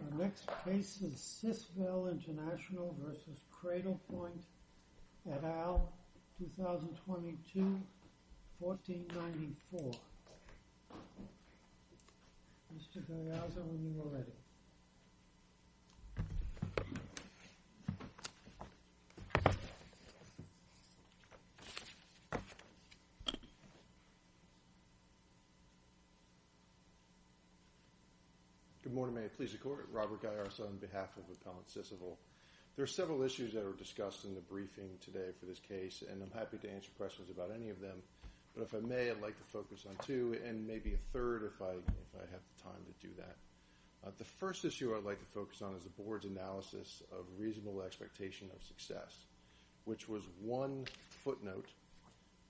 Our next case is Sisvel International v. Cradle Point, et al., 2022, 1494. Mr. Gariazza, when you are ready. Good morning. May it please the Court. Robert Gariazza on behalf of Appellant Sisvel. There are several issues that are discussed in the briefing today for this case, and I'm happy to answer questions about any of them. But if I may, I'd like to focus on two, and maybe a third if I have the time to do that. The first issue I'd like to focus on is the Board's analysis of reasonable expectation of success, which was one footnote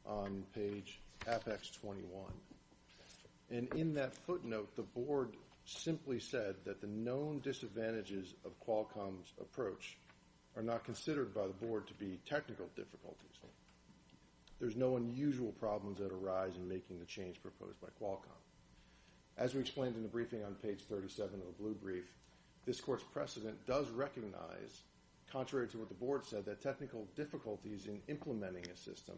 on page Apex 21. And in that footnote, the Board simply said that the known disadvantages of Qualcomm's approach are not considered by the Board to be technical difficulties. There's no unusual problems that arise in making the change proposed by Qualcomm. As we explained in the briefing on page 37 of the blue brief, this Court's precedent does recognize, contrary to what the Board said, that technical difficulties in implementing a system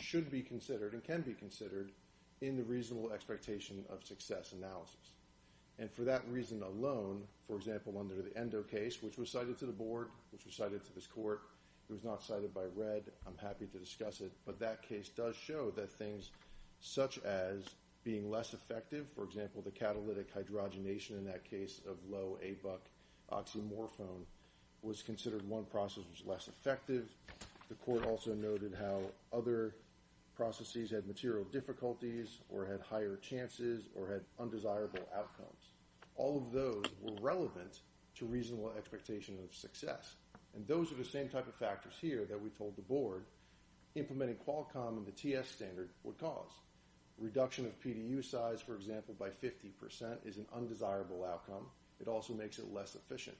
should be considered and can be considered in the reasonable expectation of success analysis. And for that reason alone, for example, under the Endo case, which was cited to the Board, which was cited to this Court, it was not cited by Red, I'm happy to discuss it, but that case does show that things such as being less effective, for example, the catalytic hydrogenation in that case of low ABUC oxymorphone was considered one process was less effective. The Court also noted how other processes had material difficulties or had higher chances or had undesirable outcomes. All of those were relevant to reasonable expectation of success. And those are the same type of factors here that we told the Board implementing Qualcomm and the TS standard would cause. Reduction of PDU size, for example, by 50% is an undesirable outcome. It also makes it less efficient.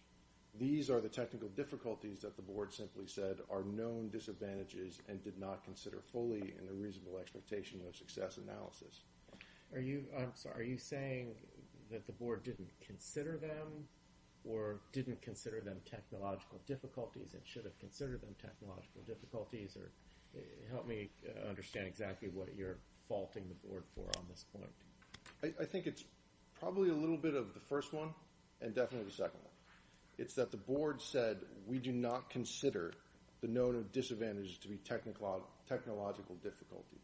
These are the technical difficulties that the Board simply said are known disadvantages and did not consider fully in the reasonable expectation of success analysis. Are you saying that the Board didn't consider them or didn't consider them technological difficulties and should have considered them technological difficulties? Help me understand exactly what you're faulting the Board for on this point. I think it's probably a little bit of the first one and definitely the second one. It's that the Board said we do not consider the known disadvantages to be technological difficulties.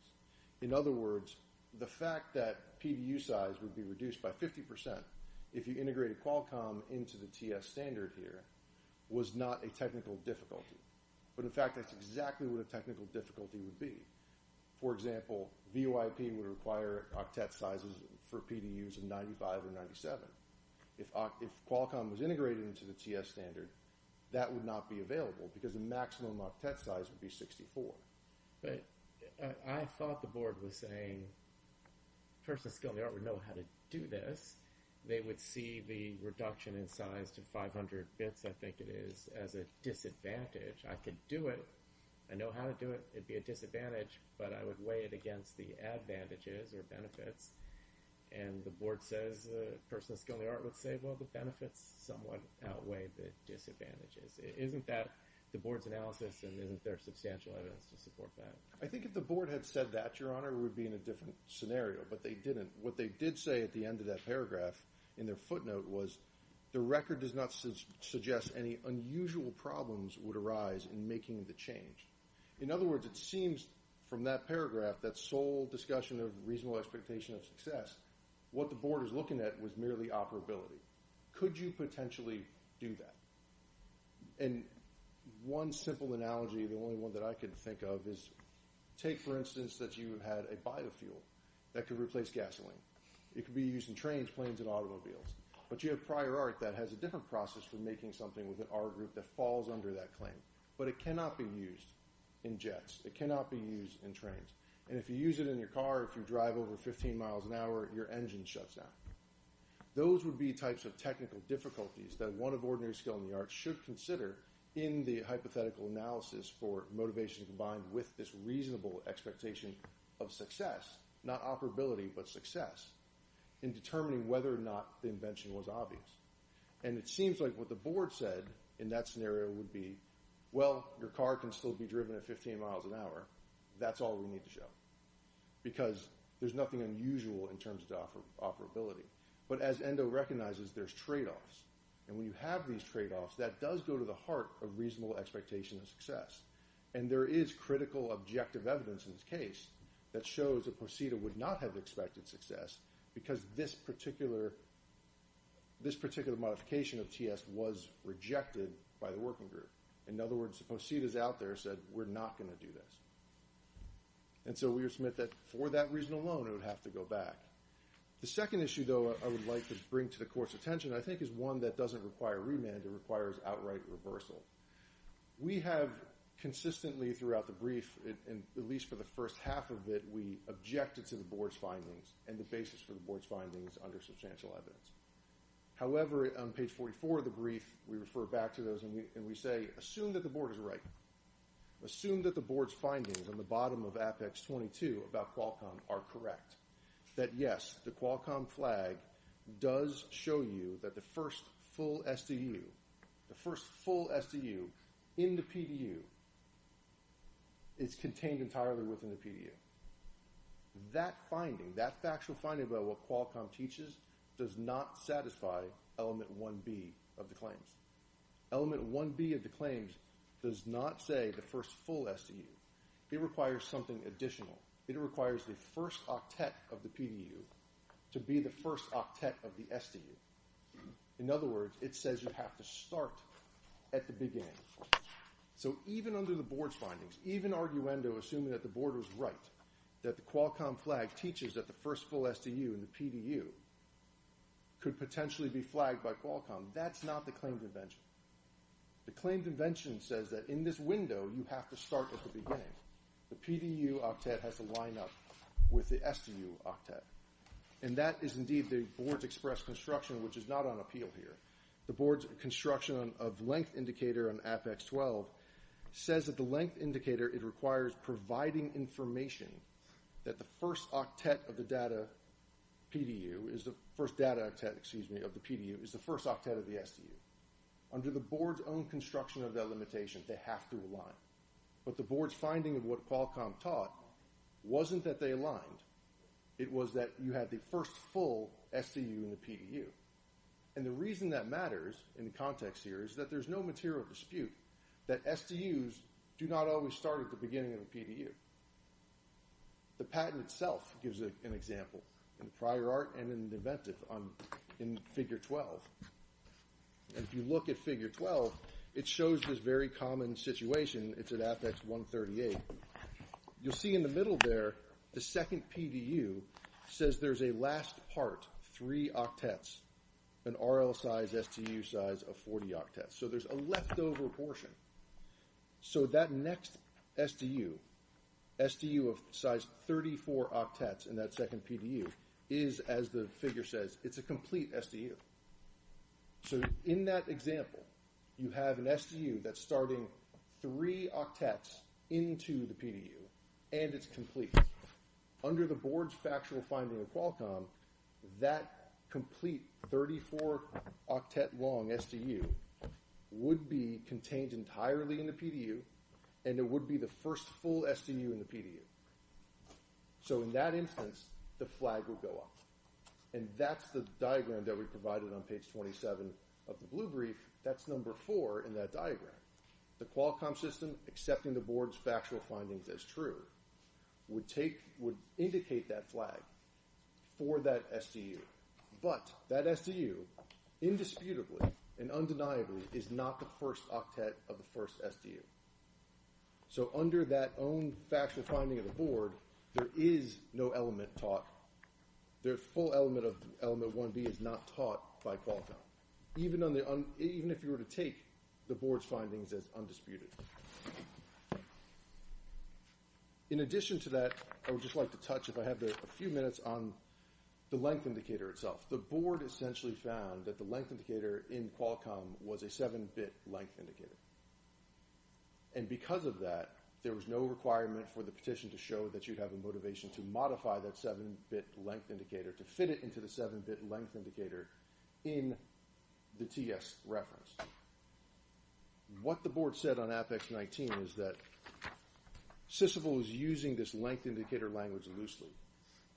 In other words, the fact that PDU size would be reduced by 50% if you integrated Qualcomm into the TS standard here was not a technical difficulty. But, in fact, that's exactly what a technical difficulty would be. For example, VOIP would require octet sizes for PDUs of 95 or 97. If Qualcomm was integrated into the TS standard, that would not be available because the maximum octet size would be 64. But I thought the Board was saying the person with skill in the art would know how to do this. They would see the reduction in size to 500 bits, I think it is, as a disadvantage. I could do it. I know how to do it. It would be a disadvantage, but I would weigh it against the advantages or benefits. And the Board says the person with skill in the art would say, well, the benefits somewhat outweigh the disadvantages. Isn't that the Board's analysis, and isn't there substantial evidence to support that? I think if the Board had said that, Your Honor, we would be in a different scenario. But they didn't. What they did say at the end of that paragraph in their footnote was the record does not suggest any unusual problems would arise in making the change. In other words, it seems from that paragraph, that sole discussion of reasonable expectation of success, what the Board is looking at was merely operability. Could you potentially do that? And one simple analogy, the only one that I could think of, is take, for instance, that you had a biofuel that could replace gasoline. It could be used in trains, planes, and automobiles. But you have prior art that has a different process for making something with an art group that falls under that claim. But it cannot be used in jets. It cannot be used in trains. And if you use it in your car, if you drive over 15 miles an hour, your engine shuts down. Those would be types of technical difficulties that one of ordinary skill in the arts should consider in the hypothetical analysis for motivation combined with this reasonable expectation of success, not operability but success, in determining whether or not the invention was obvious. And it seems like what the Board said in that scenario would be, Well, your car can still be driven at 15 miles an hour. That's all we need to show. Because there's nothing unusual in terms of operability. But as ENDO recognizes, there's tradeoffs. And when you have these tradeoffs, that does go to the heart of reasonable expectation of success. And there is critical objective evidence in this case that shows that POSITA would not have expected success because this particular modification of TS was rejected by the working group. In other words, POSITA is out there and said, We're not going to do this. And so we would submit that for that reason alone, it would have to go back. The second issue, though, I would like to bring to the Court's attention, I think, is one that doesn't require remand. It requires outright reversal. We have consistently throughout the brief, at least for the first half of it, we objected to the Board's findings and the basis for the Board's findings under substantial evidence. However, on page 44 of the brief, we refer back to those and we say, Assume that the Board is right. Assume that the Board's findings on the bottom of Apex 22 about Qualcomm are correct. That, yes, the Qualcomm flag does show you that the first full SDU in the PDU is contained entirely within the PDU. That finding, that factual finding about what Qualcomm teaches, does not satisfy Element 1B of the claims. Element 1B of the claims does not say the first full SDU. It requires something additional. It requires the first octet of the PDU to be the first octet of the SDU. In other words, it says you have to start at the beginning. So even under the Board's findings, even arguendo assuming that the Board was right, that the Qualcomm flag teaches that the first full SDU in the PDU could potentially be flagged by Qualcomm, that's not the claimed invention. The claimed invention says that in this window, you have to start at the beginning. The PDU octet has to line up with the SDU octet. And that is indeed the Board's express construction, which is not on appeal here. The Board's construction of length indicator on Apex 12 says that the length indicator, it requires providing information that the first octet of the PDU is the first octet of the SDU. Under the Board's own construction of that limitation, they have to align. But the Board's finding of what Qualcomm taught wasn't that they aligned. It was that you had the first full SDU in the PDU. And the reason that matters in the context here is that there's no material dispute that SDUs do not always start at the beginning of the PDU. The patent itself gives an example in the prior art and in the inventive in Figure 12. And if you look at Figure 12, it shows this very common situation. It's at Apex 138. You'll see in the middle there, the second PDU says there's a last part, three octets, an RL size SDU size of 40 octets. So there's a leftover portion. So that next SDU, SDU of size 34 octets in that second PDU is, as the figure says, it's a complete SDU. So in that example, you have an SDU that's starting three octets into the PDU, and it's complete. Under the board's factual finding of Qualcomm, that complete 34 octet long SDU would be contained entirely in the PDU, and it would be the first full SDU in the PDU. So in that instance, the flag would go up. And that's the diagram that we provided on page 27 of the blue brief. That's number four in that diagram. The Qualcomm system, accepting the board's factual findings as true, would indicate that flag for that SDU. But that SDU, indisputably and undeniably, is not the first octet of the first SDU. So under that own factual finding of the board, there is no element taught. The full element of element 1B is not taught by Qualcomm. Even if you were to take the board's findings as undisputed. In addition to that, I would just like to touch, if I have a few minutes, on the length indicator itself. The board essentially found that the length indicator in Qualcomm was a 7-bit length indicator. And because of that, there was no requirement for the petition to show that you'd have a motivation to modify that 7-bit length indicator, to fit it into the 7-bit length indicator in the TS reference. What the board said on Apex-19 is that SYSVIL is using this length indicator language loosely.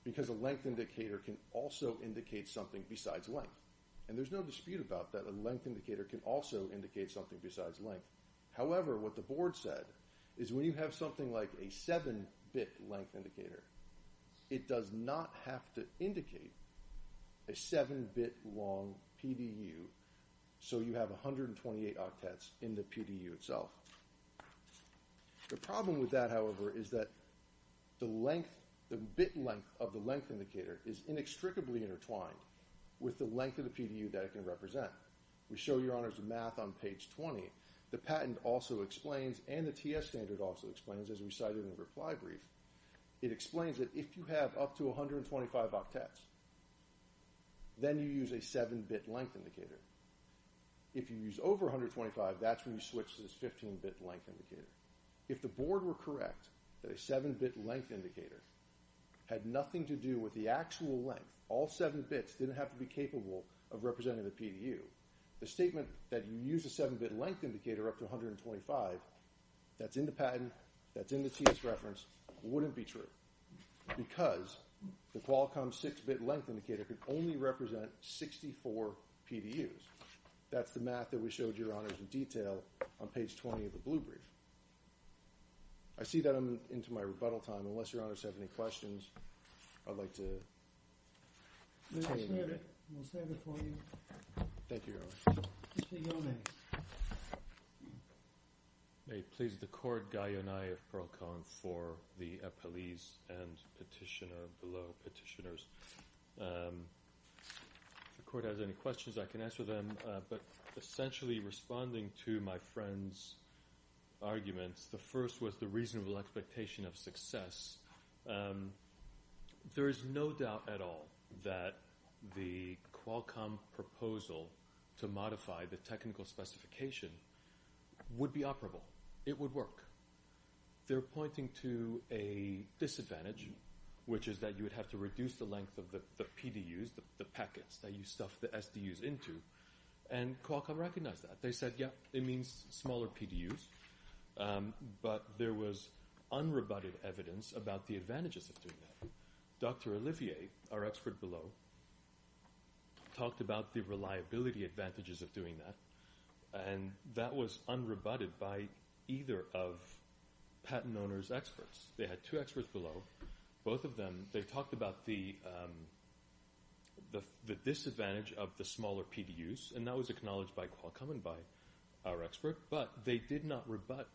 Because a length indicator can also indicate something besides length. And there's no dispute about that. A length indicator can also indicate something besides length. However, what the board said is when you have something like a 7-bit length indicator, it does not have to indicate a 7-bit long PDU, so you have 128 octets in the PDU itself. The problem with that, however, is that the length, the bit length of the length indicator, is inextricably intertwined with the length of the PDU that it can represent. We show your honors the math on page 20. The patent also explains, and the TS standard also explains, as we cited in the reply brief, it explains that if you have up to 125 octets, then you use a 7-bit length indicator. If you use over 125, that's when you switch to this 15-bit length indicator. If the board were correct that a 7-bit length indicator had nothing to do with the actual length, all 7 bits didn't have to be capable of representing the PDU, the statement that you use a 7-bit length indicator up to 125, that's in the patent, that's in the TS reference, wouldn't be true because the Qualcomm 6-bit length indicator could only represent 64 PDUs. That's the math that we showed your honors in detail on page 20 of the blue brief. I see that I'm into my rebuttal time. Unless your honors have any questions, I'd like to take a minute. We'll stand before you. Thank you, your honors. Mr. Yonais. May it please the court, Guy Yonais of Pearl Cone for the appellees and petitioner, below petitioners. If the court has any questions, I can answer them. But essentially responding to my friend's arguments, the first was the reasonable expectation of success. There is no doubt at all that the Qualcomm proposal to modify the technical specification would be operable. It would work. They're pointing to a disadvantage, which is that you would have to reduce the length of the PDUs, the packets that you stuff the SDUs into, and Qualcomm recognized that. They said, yeah, it means smaller PDUs. But there was unrebutted evidence about the advantages of doing that. Dr. Olivier, our expert below, talked about the reliability advantages of doing that, and that was unrebutted by either of patent owner's experts. They had two experts below. Both of them, they talked about the disadvantage of the smaller PDUs, and that was acknowledged by Qualcomm and by our expert. But they did not rebut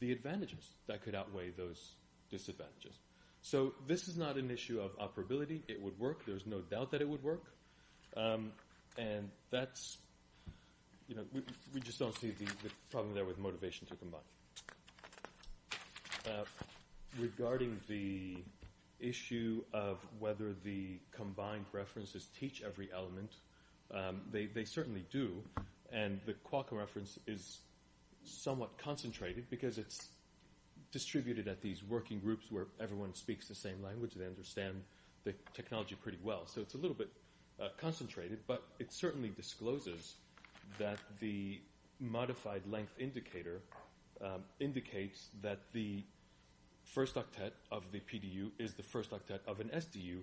the advantages that could outweigh those disadvantages. So this is not an issue of operability. It would work. There's no doubt that it would work. And that's, you know, we just don't see the problem there with motivation to combine. Regarding the issue of whether the combined references teach every element, they certainly do. And the Qualcomm reference is somewhat concentrated because it's distributed at these working groups where everyone speaks the same language and they understand the technology pretty well. So it's a little bit concentrated, but it certainly discloses that the modified length indicator indicates that the first octet of the PDU is the first octet of an SDU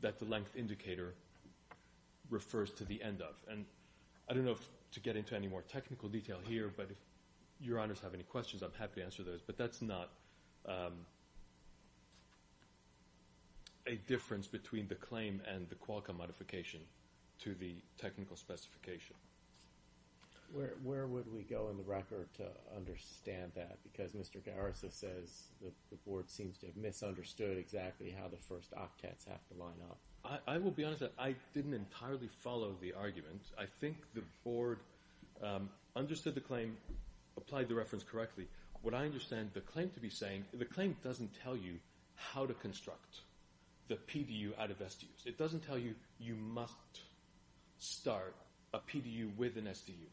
that the length indicator refers to the end of. And I don't know if to get into any more technical detail here, but if Your Honors have any questions, I'm happy to answer those. But that's not a difference between the claim and the Qualcomm modification to the technical specification. Where would we go in the record to understand that? Because Mr. Garris says the Board seems to have misunderstood exactly how the first octets have to line up. I will be honest that I didn't entirely follow the argument. I think the Board understood the claim, applied the reference correctly. What I understand the claim to be saying, the claim doesn't tell you how to construct the PDU out of SDUs. It doesn't tell you you must start a PDU with an SDU.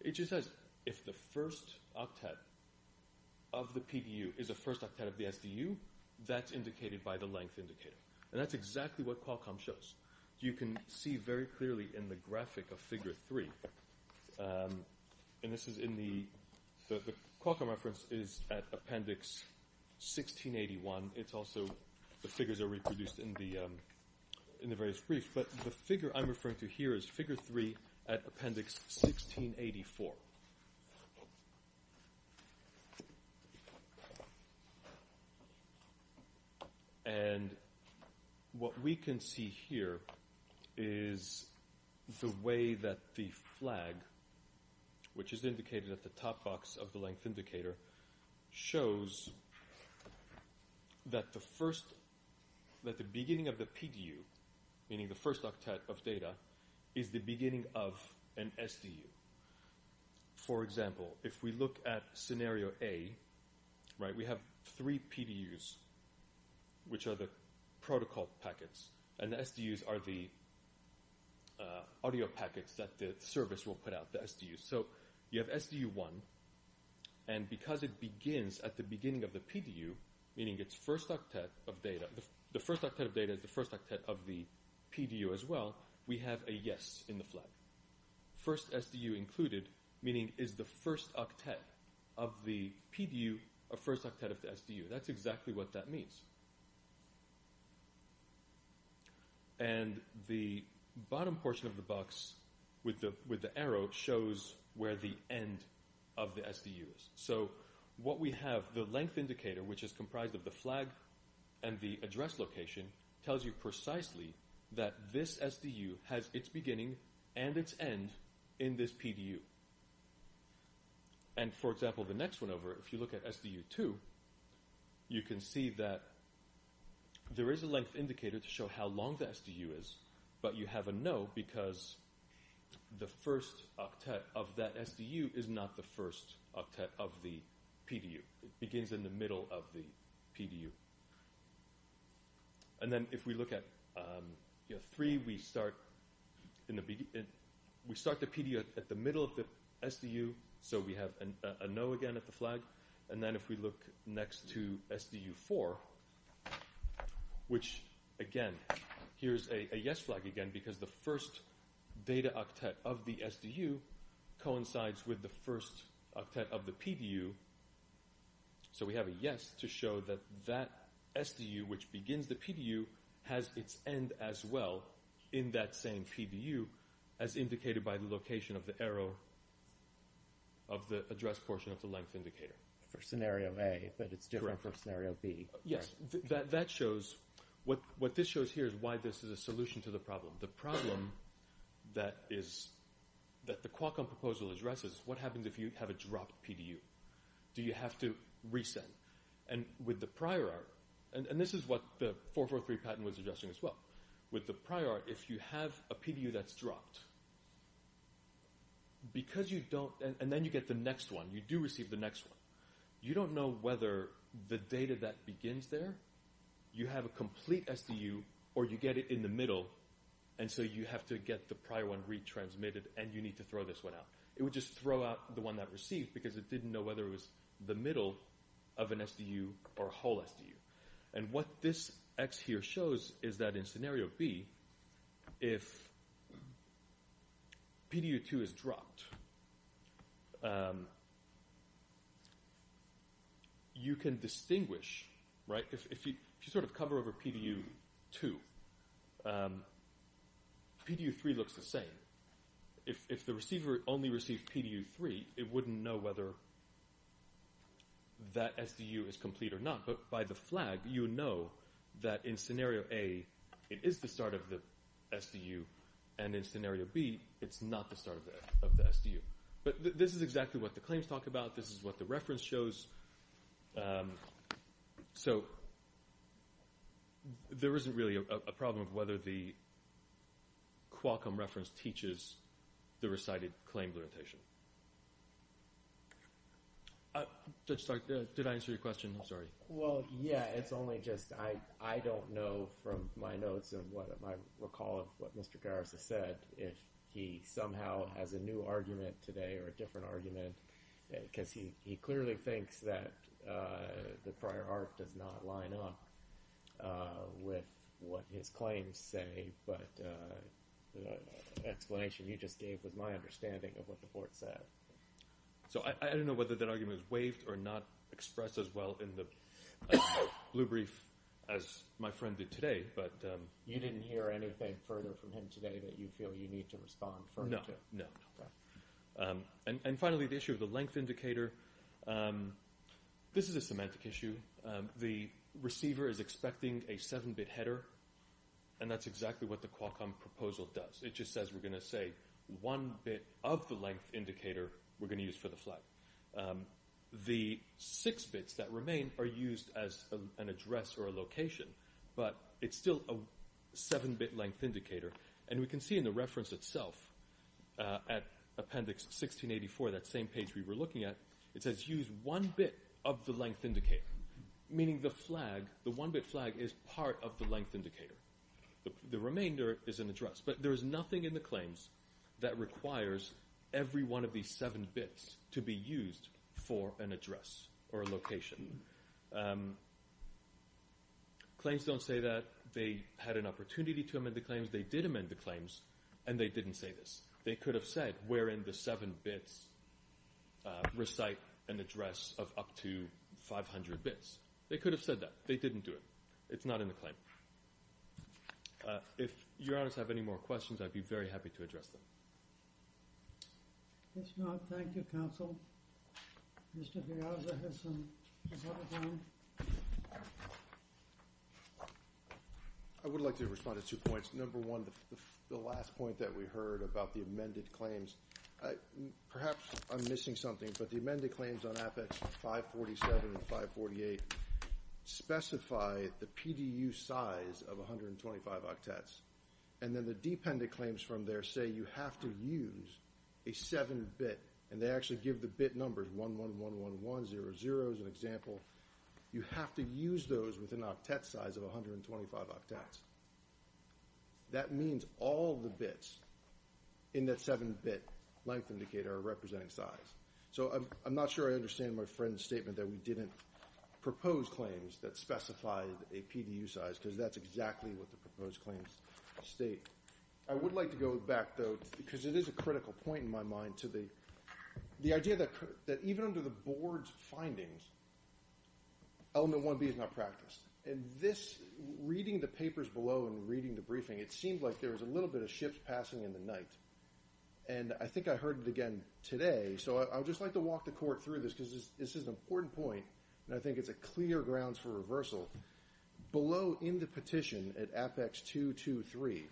It just says if the first octet of the PDU is the first octet of the SDU, that's indicated by the length indicator. And that's exactly what Qualcomm shows. You can see very clearly in the graphic of Figure 3. And this is in the – the Qualcomm reference is at Appendix 1681. It's also – the figures are reproduced in the various briefs. But the figure I'm referring to here is Figure 3 at Appendix 1684. And what we can see here is the way that the flag, which is indicated at the top box of the length indicator, shows that the first – that the beginning of the PDU, meaning the first octet of data, is the beginning of an SDU. For example, if we look at Scenario A, right, we have three PDUs, which are the protocol packets, and the SDUs are the audio packets that the service will put out, the SDUs. So you have SDU 1. And because it begins at the beginning of the PDU, meaning its first octet of data – the first octet of data is the first octet of the PDU as well, we have a yes in the flag. First SDU included, meaning is the first octet of the PDU the first octet of the SDU. That's exactly what that means. And the bottom portion of the box with the arrow shows where the end of the SDU is. So what we have – the length indicator, which is comprised of the flag and the address location, tells you precisely that this SDU has its beginning and its end in this PDU. And for example, the next one over, if you look at SDU 2, you can see that there is a length indicator to show how long the SDU is, but you have a no because the first octet of that SDU is not the first octet of the PDU. It begins in the middle of the PDU. And then if we look at 3, we start the PDU at the middle of the SDU, so we have a no again at the flag. And then if we look next to SDU 4, which again, here's a yes flag again because the first data octet of the SDU coincides with the first octet of the PDU. So we have a yes to show that that SDU, which begins the PDU, has its end as well in that same PDU as indicated by the location of the arrow of the address portion of the length indicator. For scenario A, but it's different for scenario B. Yes, that shows – what this shows here is why this is a solution to the problem. The problem that the Qualcomm proposal addresses is what happens if you have a dropped PDU. Do you have to resend? And with the prior – and this is what the 443 patent was addressing as well. With the prior, if you have a PDU that's dropped, because you don't – and then you get the next one. You do receive the next one. You don't know whether the data that begins there, you have a complete SDU, or you get it in the middle, and so you have to get the prior one retransmitted, and you need to throw this one out. It would just throw out the one that received because it didn't know whether it was the middle of an SDU or a whole SDU. And what this X here shows is that in scenario B, if PDU2 is dropped, you can distinguish – if you sort of cover over PDU2, PDU3 looks the same. If the receiver only received PDU3, it wouldn't know whether that SDU is complete or not. But by the flag, you would know that in scenario A, it is the start of the SDU, and in scenario B, it's not the start of the SDU. But this is exactly what the claims talk about. This is what the reference shows. So there isn't really a problem of whether the Qualcomm reference teaches the recited claim limitation. Did I answer your question? I'm sorry. Well, yeah, it's only just I don't know from my notes and what I recall of what Mr. Garris has said if he somehow has a new argument today or a different argument because he clearly thinks that the prior art does not line up with what his claims say. But the explanation you just gave was my understanding of what the court said. So I don't know whether that argument is waived or not expressed as well in the blue brief as my friend did today. But you didn't hear anything further from him today that you feel you need to respond further to? No, no. And finally, the issue of the length indicator, this is a semantic issue. The receiver is expecting a 7-bit header, and that's exactly what the Qualcomm proposal does. It just says we're going to say one bit of the length indicator we're going to use for the flag. The six bits that remain are used as an address or a location, but it's still a 7-bit length indicator. And we can see in the reference itself at Appendix 1684, that same page we were looking at, it says use one bit of the length indicator, meaning the flag, the one-bit flag is part of the length indicator. The remainder is an address. But there is nothing in the claims that requires every one of these seven bits to be used for an address or a location. Claims don't say that they had an opportunity to amend the claims. They did amend the claims, and they didn't say this. They could have said, where in the seven bits recite an address of up to 500 bits. They could have said that. They didn't do it. It's not in the claim. If your honors have any more questions, I'd be very happy to address them. If not, thank you, counsel. Mr. Piazza has some time. I would like to respond to two points. Number one, the last point that we heard about the amended claims, perhaps I'm missing something, but the amended claims on Apex 547 and 548 specify the PDU size of 125 octets. And then the dependent claims from there say you have to use a 7-bit, and they actually give the bit numbers, 1111100 is an example. You have to use those with an octet size of 125 octets. That means all the bits in that 7-bit length indicator are representing size. So I'm not sure I understand my friend's statement that we didn't propose claims that specified a PDU size because that's exactly what the proposed claims state. I would like to go back, though, because it is a critical point in my mind, to the idea that even under the board's findings, element 1B is not practiced. And this, reading the papers below and reading the briefing, it seemed like there was a little bit of shifts passing in the night. And I think I heard it again today, so I would just like to walk the court through this because this is an important point, and I think it's a clear grounds for reversal. Below in the petition at Apex 223,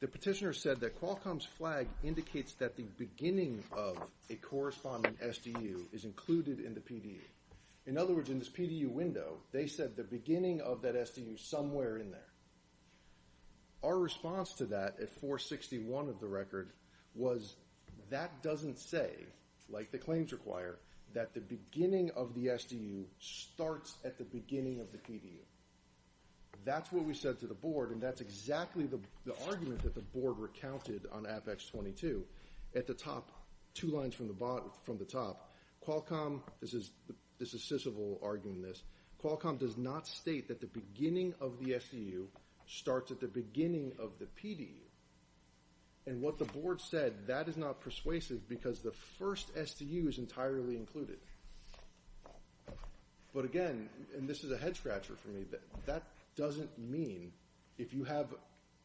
the petitioner said that Qualcomm's flag indicates that the beginning of a corresponding SDU is included in the PDU. In other words, in this PDU window, they said the beginning of that SDU is somewhere in there. Our response to that at 461 of the record was that doesn't say, like the claims require, that the beginning of the SDU starts at the beginning of the PDU. That's what we said to the board, and that's exactly the argument that the board recounted on Apex 22. At the top, two lines from the top, Qualcomm—this is Sissible arguing this— Qualcomm does not state that the beginning of the SDU starts at the beginning of the PDU. And what the board said, that is not persuasive because the first SDU is entirely included. But again—and this is a head-scratcher for me—that doesn't mean if you have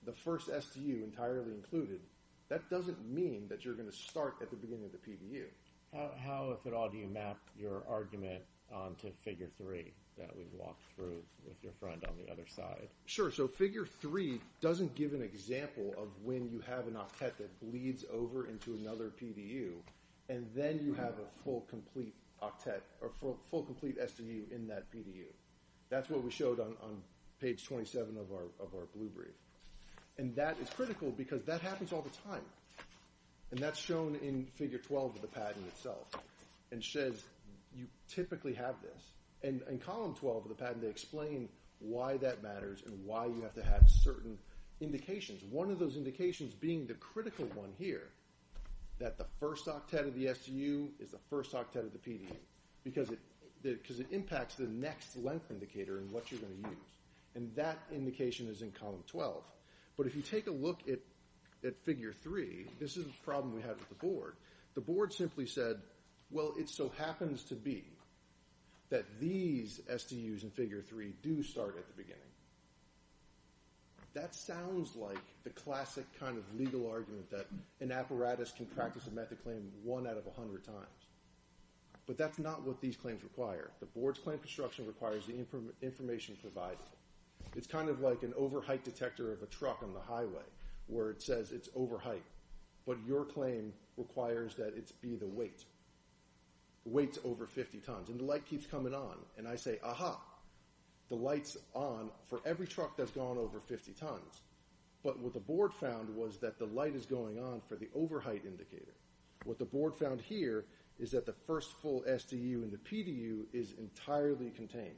the first SDU entirely included, that doesn't mean that you're going to start at the beginning of the PDU. How, if at all, do you map your argument onto Figure 3 that we've walked through with your friend on the other side? Sure, so Figure 3 doesn't give an example of when you have an octet that bleeds over into another PDU, and then you have a full, complete SDU in that PDU. That's what we showed on page 27 of our blue brief. And that is critical because that happens all the time. And that's shown in Figure 12 of the patent itself, and says you typically have this. And in Column 12 of the patent, they explain why that matters and why you have to have certain indications. One of those indications being the critical one here, that the first octet of the SDU is the first octet of the PDU, because it impacts the next length indicator and what you're going to use. And that indication is in Column 12. But if you take a look at Figure 3, this is a problem we had with the board. The board simply said, well, it so happens to be that these SDUs in Figure 3 do start at the beginning. That sounds like the classic kind of legal argument that an apparatus can practice a method claim one out of 100 times. But that's not what these claims require. The board's claim construction requires the information provided. It's kind of like an over-height detector of a truck on the highway where it says it's over height. But your claim requires that it be the weight. The weight's over 50 tons, and the light keeps coming on. And I say, aha, the light's on for every truck that's gone over 50 tons. But what the board found was that the light is going on for the over-height indicator. What the board found here is that the first full SDU in the PDU is entirely contained.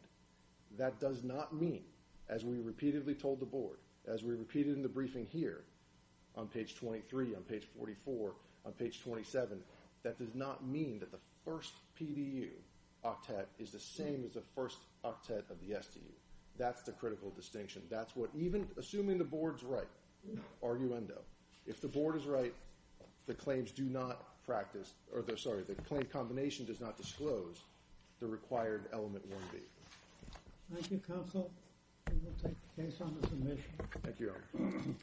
That does not mean, as we repeatedly told the board, as we repeated in the briefing here on page 23, on page 44, on page 27, that does not mean that the first PDU octet is the same as the first octet of the SDU. That's the critical distinction. That's what even assuming the board's right, arguendo, if the board is right, the claims do not practice or, sorry, the claim combination does not disclose the required element 1B. Thank you, counsel. We will take the case on to submission.